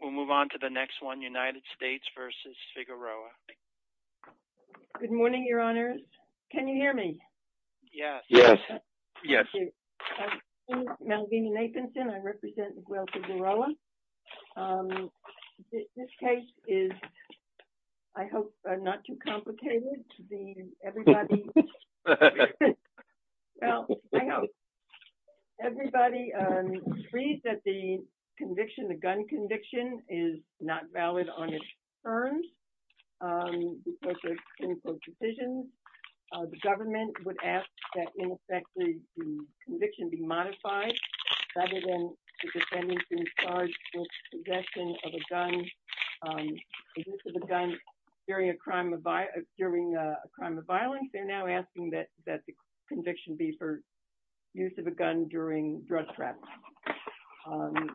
We'll move on to the next one, United States v. Figueroa. Good morning, Your Honors. Can you hear me? Yes. Yes. Thank you. My name is Malvina Nathanson. I represent the Guelph Figueroa. This case is, I hope, not too complicated. Everybody agrees that the conviction, the gun conviction, is not valid on its terms because of clinical decisions. The government would ask that, in effect, the conviction be modified rather than the defendant being charged with possession of a gun, the use of a gun during a crime of violence. They're now asking that the conviction be for use of a gun during drug trafficking.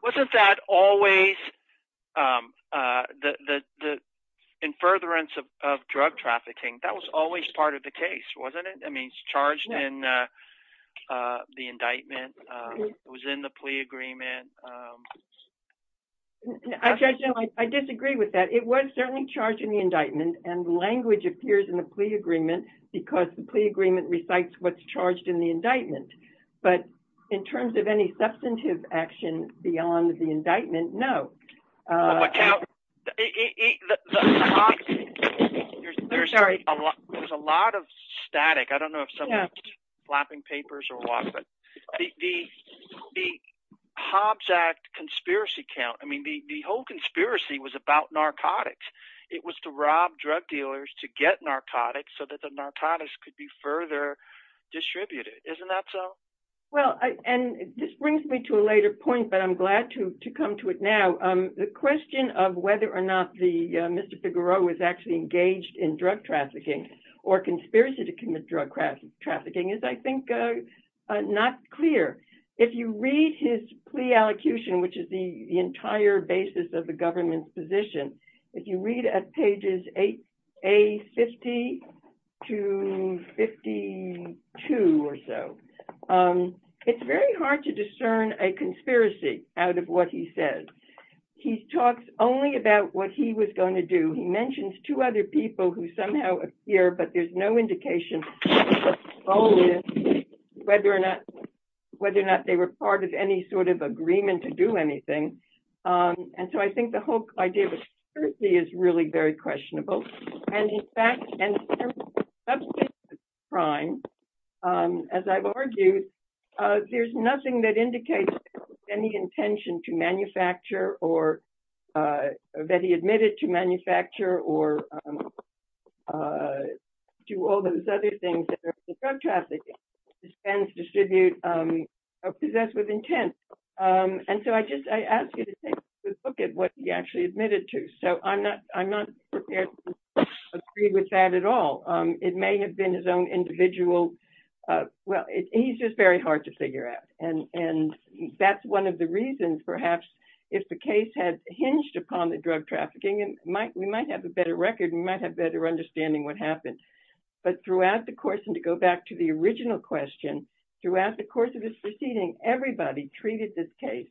Wasn't that always the, in furtherance of drug trafficking, that was always part of the case, wasn't it? I mean, it's charged in the indictment, it was in the plea agreement. I disagree with that. It was certainly charged in the indictment, and language appears in the plea agreement because the plea agreement recites what's charged in the indictment. But in terms of any substantive action beyond the indictment, no. There's a lot of static. I don't know if someone's flapping papers or what, but the Hobbs Act conspiracy count, I mean, the whole conspiracy was about narcotics. It was to rob drug dealers to get narcotics so that the narcotics could be further distributed. Isn't that so? Well, and this brings me to a later point, but I'm glad to come to it now. The question of whether or not Mr. Figueroa was actually engaged in drug trafficking or conspiracy to commit drug trafficking is, I think, not clear. If you read his plea allocution, which is the entire basis of the government's position, if you read at pages A50 to 52 or so, it's very hard to discern a conspiracy out of what he says. He talks only about what he was going to do. He mentions two other people who somehow appear, but there's no indication whether or not they were part of any sort of agreement to do anything. And so I think the whole idea of conspiracy is really very questionable. And in fact, in terms of substance of crime, as I've argued, there's nothing that indicates any intention to manufacture or that he admitted to manufacture or do all those other things that drug trafficking dispense, distribute, or possess with intent. And so I ask you to take a look at what he actually admitted to. So I'm not prepared to agree with that at all. It may have been his own individual. Well, he's just very hard to figure out. And that's one of the reasons, perhaps, if the case had hinged upon the drug trafficking, we might have a better record and we might have better understanding what happened. But throughout the course, and to go back to the original question, throughout the course of this proceeding, everybody treated this case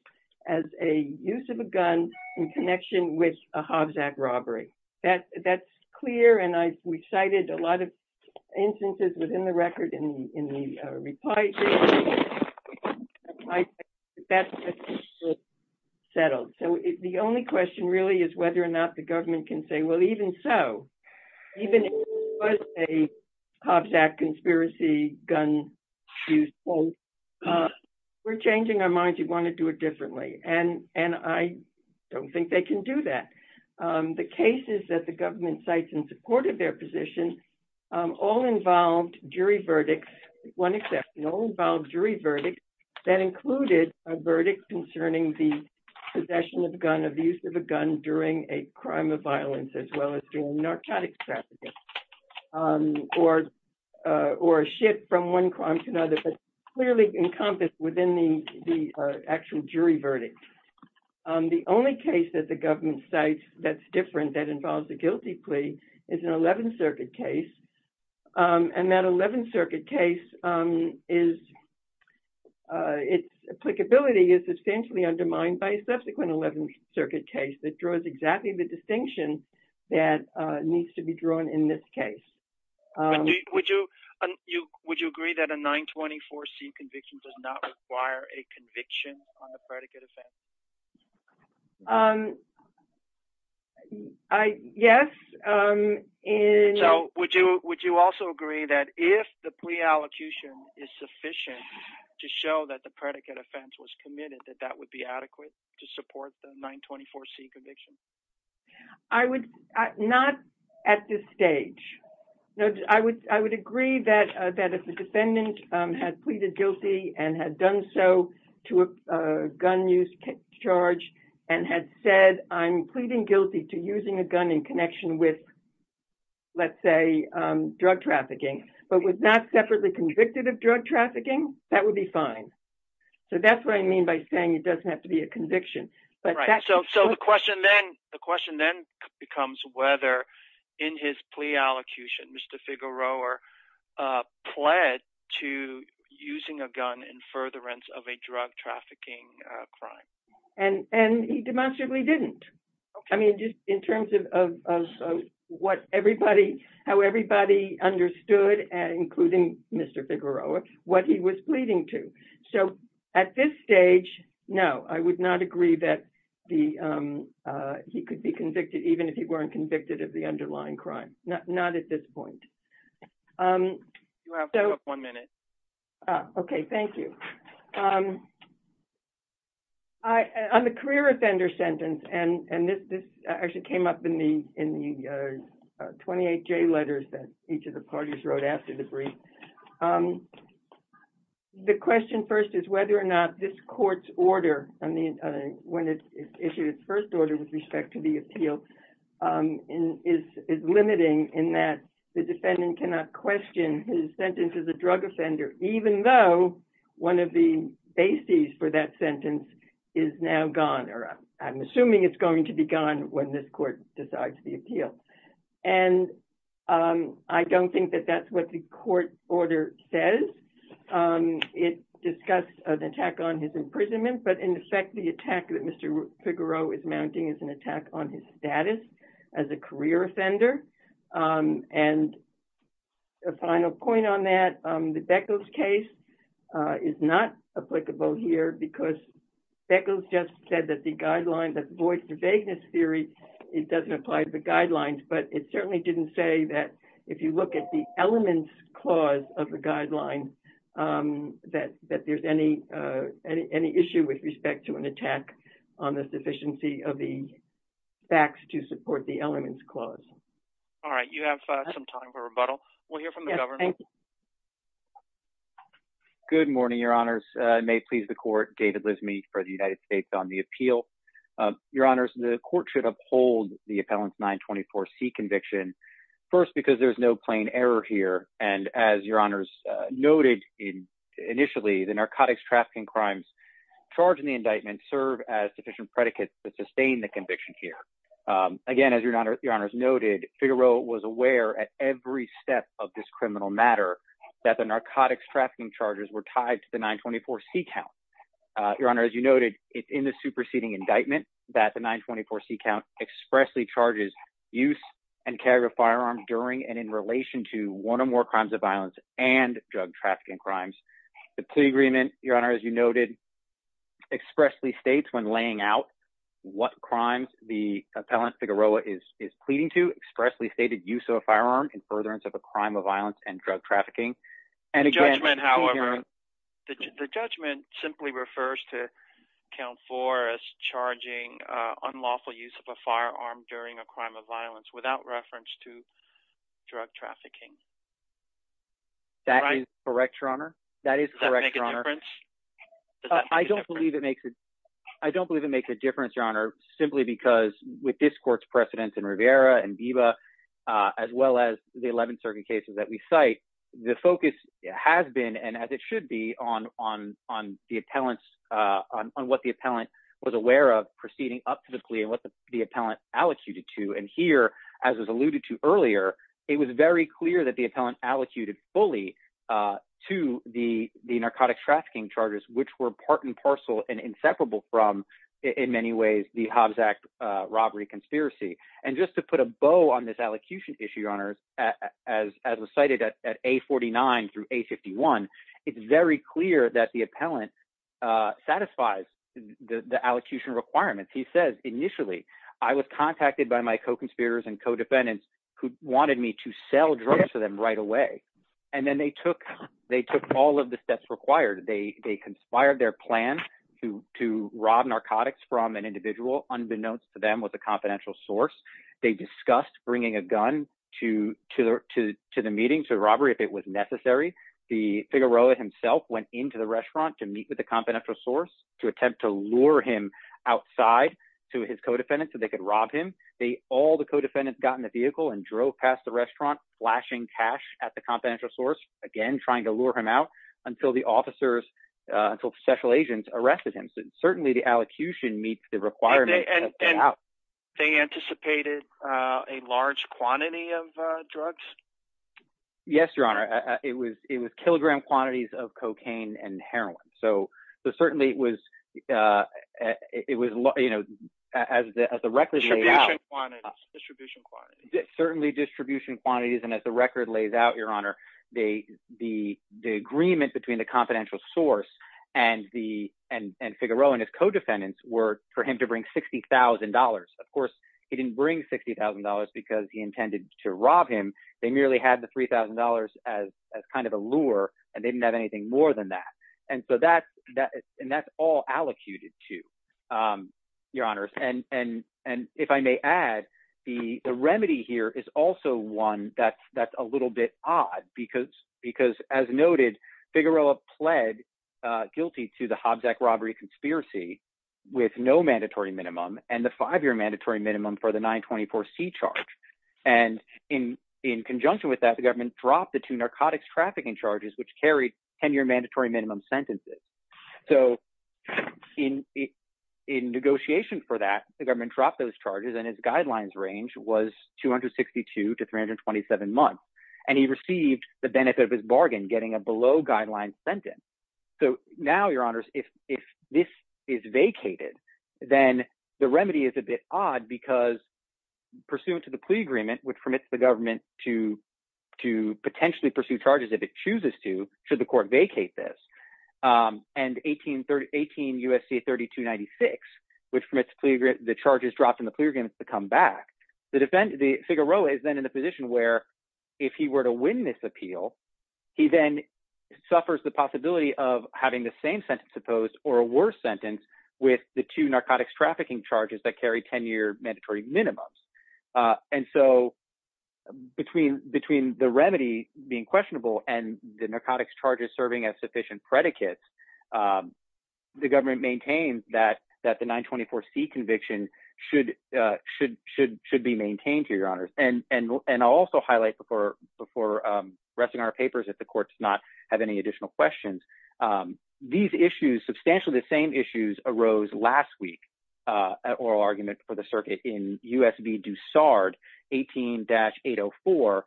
as a use of a gun in connection with a Hobbs Act robbery. That's clear, and we cited a lot of instances within the record in the reply. That's settled. So the only question really is whether or not the government can say, well, even so, even if it was a Hobbs Act conspiracy gun use, we're changing our minds. We want to do it differently. And I don't think they can do that. The cases that the government cites in support of their position all involved jury verdicts, one exception, all involved jury verdicts that included a verdict concerning the possession of a gun, the possession of the use of a gun during a crime of violence, as well as during narcotics trafficking, or a shift from one crime to another, but clearly encompassed within the actual jury verdict. The only case that the government cites that's different that involves a guilty plea is an 11th Circuit case, and that 11th Circuit case is, its applicability is substantially undermined by a subsequent 11th Circuit case that draws exactly the distinction that needs to be drawn in this case. Would you agree that a 924C conviction does not require a conviction on the predicate offense? Yes. So would you also agree that if the plea allocution is sufficient to show that the predicate offense was committed, that that would be adequate to support the 924C conviction? Not at this stage. I would agree that if the defendant had pleaded guilty and had done so to a gun use charge and had said, I'm pleading guilty to using a gun in connection with, let's say, drug trafficking, but was not separately convicted of drug trafficking, that would be fine. So that's what I mean by saying it doesn't have to be a conviction. So the question then becomes whether in his plea allocution, Mr. Figueroa pled to using a gun in furtherance of a drug trafficking crime. And he demonstrably didn't. I mean, just in terms of how everybody understood, including Mr. Figueroa, what he was pleading to. So at this stage, no, I would not agree that he could be convicted, even if he weren't convicted of the underlying crime. Not at this point. You have one minute. Okay, thank you. On the career offender sentence, and this actually came up in the 28J letters that each of the parties wrote after the brief. The question first is whether or not this court's order, when it issued its first order with respect to the appeal, is limiting in that the defendant cannot question his sentence as a drug offender, even though one of the bases for that sentence is now gone. I'm assuming it's going to be gone when this court decides the appeal. And I don't think that that's what the court order says. It discusses an attack on his imprisonment, but in effect, the attack that Mr. Figueroa is mounting is an attack on his status as a career offender. And a final point on that, the Beckles case is not applicable here because Beckles just said that the guidelines, that the voice of vagueness theory, it doesn't apply to the guidelines, but it certainly didn't say that if you look at the elements clause of the guideline, that there's any issue with respect to an attack on the sufficiency of the facts to support the elements clause. All right, you have some time for rebuttal. We'll hear from the government. Good morning, Your Honors. May it please the court, David Lismy for the United States on the appeal. Your Honors, the court should uphold the appellant's 924C conviction first because there's no plain error here. And as Your Honors noted initially, the narcotics trafficking crimes charged in the indictment serve as sufficient predicates to sustain the conviction here. Again, as Your Honors noted, Figueroa was aware at every step of this criminal matter that the narcotics trafficking charges were tied to the 924C count. Your Honor, as you noted in the superseding indictment that the 924C count expressly charges use and carry of firearms during and in relation to one or more crimes of violence and drug trafficking crimes. The plea agreement, Your Honor, as you noted, expressly states when laying out what crimes the appellant Figueroa is pleading to expressly stated use of a firearm in furtherance of a crime of violence and drug trafficking. The judgment, however, the judgment simply refers to count four as charging unlawful use of a firearm during a crime of violence without reference to drug trafficking. That is correct, Your Honor. That is correct, Your Honor. Does that make a difference? I don't believe it makes a – I don't believe it makes a difference, Your Honor, simply because with this court's precedence in Rivera and Biba as well as the 11 circuit cases that we cite, the focus has been and as it should be on the appellant's – on what the appellant was aware of proceeding up to the plea and what the appellant allocated to. And here, as was alluded to earlier, it was very clear that the appellant allocated fully to the narcotic trafficking charges, which were part and parcel and inseparable from, in many ways, the Hobbs Act robbery conspiracy. And just to put a bow on this allocution issue, Your Honor, as was cited at A49 through A51, it's very clear that the appellant satisfies the allocation requirements. He says, initially, I was contacted by my co-conspirators and co-defendants who wanted me to sell drugs to them right away, and then they took all of the steps required. They conspired their plan to rob narcotics from an individual unbeknownst to them with a confidential source. They discussed bringing a gun to the meeting, to the robbery if it was necessary. The Figueroa himself went into the restaurant to meet with the confidential source to attempt to lure him outside to his co-defendants so they could rob him. All the co-defendants got in the vehicle and drove past the restaurant, flashing cash at the confidential source, again trying to lure him out until the officers – until special agents arrested him. So certainly the allocution meets the requirements. And they anticipated a large quantity of drugs? Yes, Your Honor. It was kilogram quantities of cocaine and heroin. So certainly it was – as the record laid out… Distribution quantities. Distribution quantities. Certainly distribution quantities, and as the record lays out, Your Honor, the agreement between the confidential source and Figueroa and his co-defendants were for him to bring $60,000. Of course, he didn't bring $60,000 because he intended to rob him. They merely had the $3,000 as kind of a lure, and they didn't have anything more than that. And so that's – and that's all allocated to, Your Honors. And if I may add, the remedy here is also one that's a little bit odd because, as noted, Figueroa pled guilty to the Hobbs Act robbery conspiracy with no mandatory minimum and the five-year mandatory minimum for the 924C charge. And in conjunction with that, the government dropped the two narcotics trafficking charges, which carried ten-year mandatory minimum sentences. So in negotiation for that, the government dropped those charges, and his guidelines range was 262 to 327 months. And he received the benefit of his bargain, getting a below-guideline sentence. So now, Your Honors, if this is vacated, then the remedy is a bit odd because pursuant to the plea agreement, which permits the government to potentially pursue charges if it chooses to should the court vacate this, and 18 U.S.C. 3296, which permits the charges dropped in the plea agreement to come back. Figueroa is then in a position where, if he were to win this appeal, he then suffers the possibility of having the same sentence opposed or a worse sentence with the two narcotics trafficking charges that carry ten-year mandatory minimums. And so between the remedy being questionable and the narcotics charges serving as sufficient predicates, the government maintains that the 924C conviction should be maintained here, Your Honors. And I'll also highlight before resting our papers, if the court does not have any additional questions, these issues, substantially the same issues, arose last week, an oral argument for the circuit in U.S.B. Dussard, 18-804,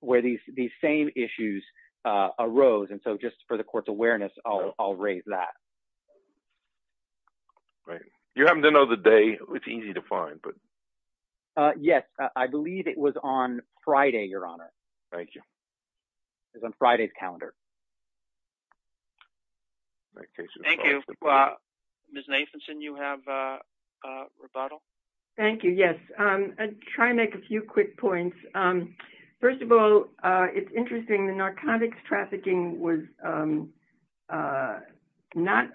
where these same issues arose. And so just for the court's awareness, I'll raise that. You happen to know the day. It's easy to find. Yes, I believe it was on Friday, Your Honor. Thank you. It was on Friday's calendar. Thank you. Ms. Nathanson, you have a rebuttal? Thank you, yes. I'll try to make a few quick points. First of all, it's interesting, the narcotics trafficking was not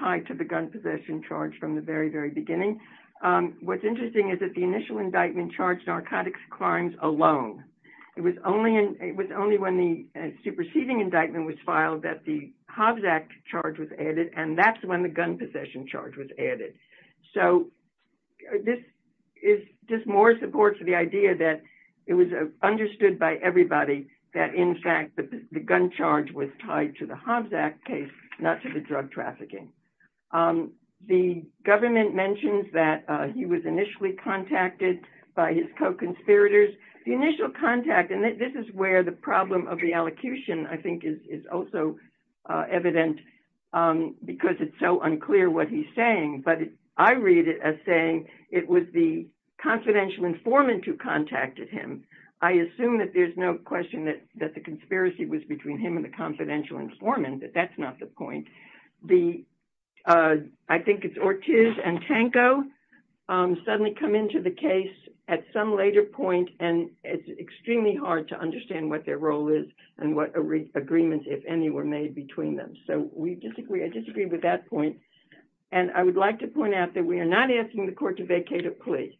tied to the gun possession charge from the very, very beginning. What's interesting is that the initial indictment charged narcotics crimes alone. It was only when the superseding indictment was filed that the Hobbs Act charge was added, and that's when the gun possession charge was added. So this is just more support for the idea that it was understood by everybody that, in fact, the gun charge was tied to the Hobbs Act case, not to the drug trafficking. The government mentions that he was initially contacted by his co-conspirators. The initial contact, and this is where the problem of the allocution, I think, is also evident because it's so unclear what he's saying, but I read it as saying it was the confidential informant who contacted him. I assume that there's no question that the conspiracy was between him and the confidential informant, but that's not the point. I think it's Ortiz and Tanko suddenly come into the case at some later point, and it's extremely hard to understand what their role is and what agreements, if any, were made between them. So I disagree with that point, and I would like to point out that we are not asking the court to vacate a plea.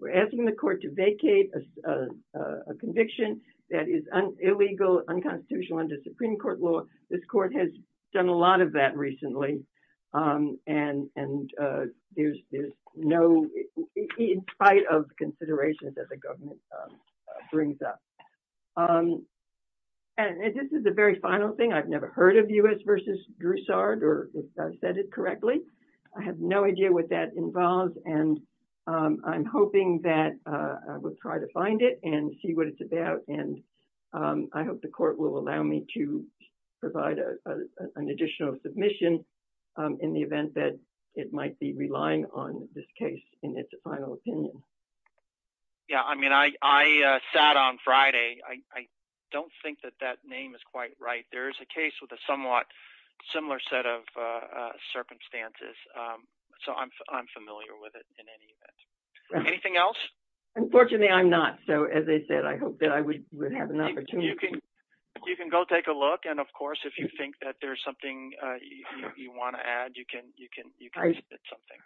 We're asking the court to vacate a conviction that is illegal, unconstitutional under Supreme Court law. This court has done a lot of that recently, and there's no, in spite of considerations that the government brings up. And this is the very final thing. I've never heard of U.S. v. Broussard, or if I said it correctly. I have no idea what that involves, and I'm hoping that I will try to find it and see what it's about. And I hope the court will allow me to provide an additional submission in the event that it might be relying on this case in its final opinion. Yeah, I mean, I sat on Friday. I don't think that that name is quite right. There is a case with a somewhat similar set of circumstances, so I'm familiar with it in any event. Anything else? Unfortunately, I'm not, so as I said, I hope that I would have an opportunity. You can go take a look, and of course, if you think that there's something you want to add, you can submit something.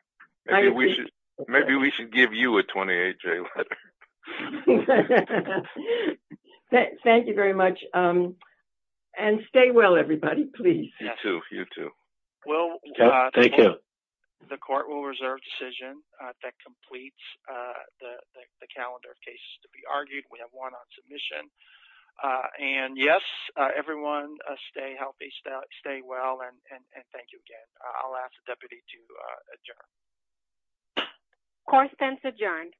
Maybe we should give you a 28-J letter. Thank you very much, and stay well, everybody, please. You too, you too. Well, the court will reserve a decision that completes the calendar of cases to be argued. We have one on submission, and yes, everyone stay healthy, stay well, and thank you again. I'll ask the deputy to adjourn. Correspondence adjourned.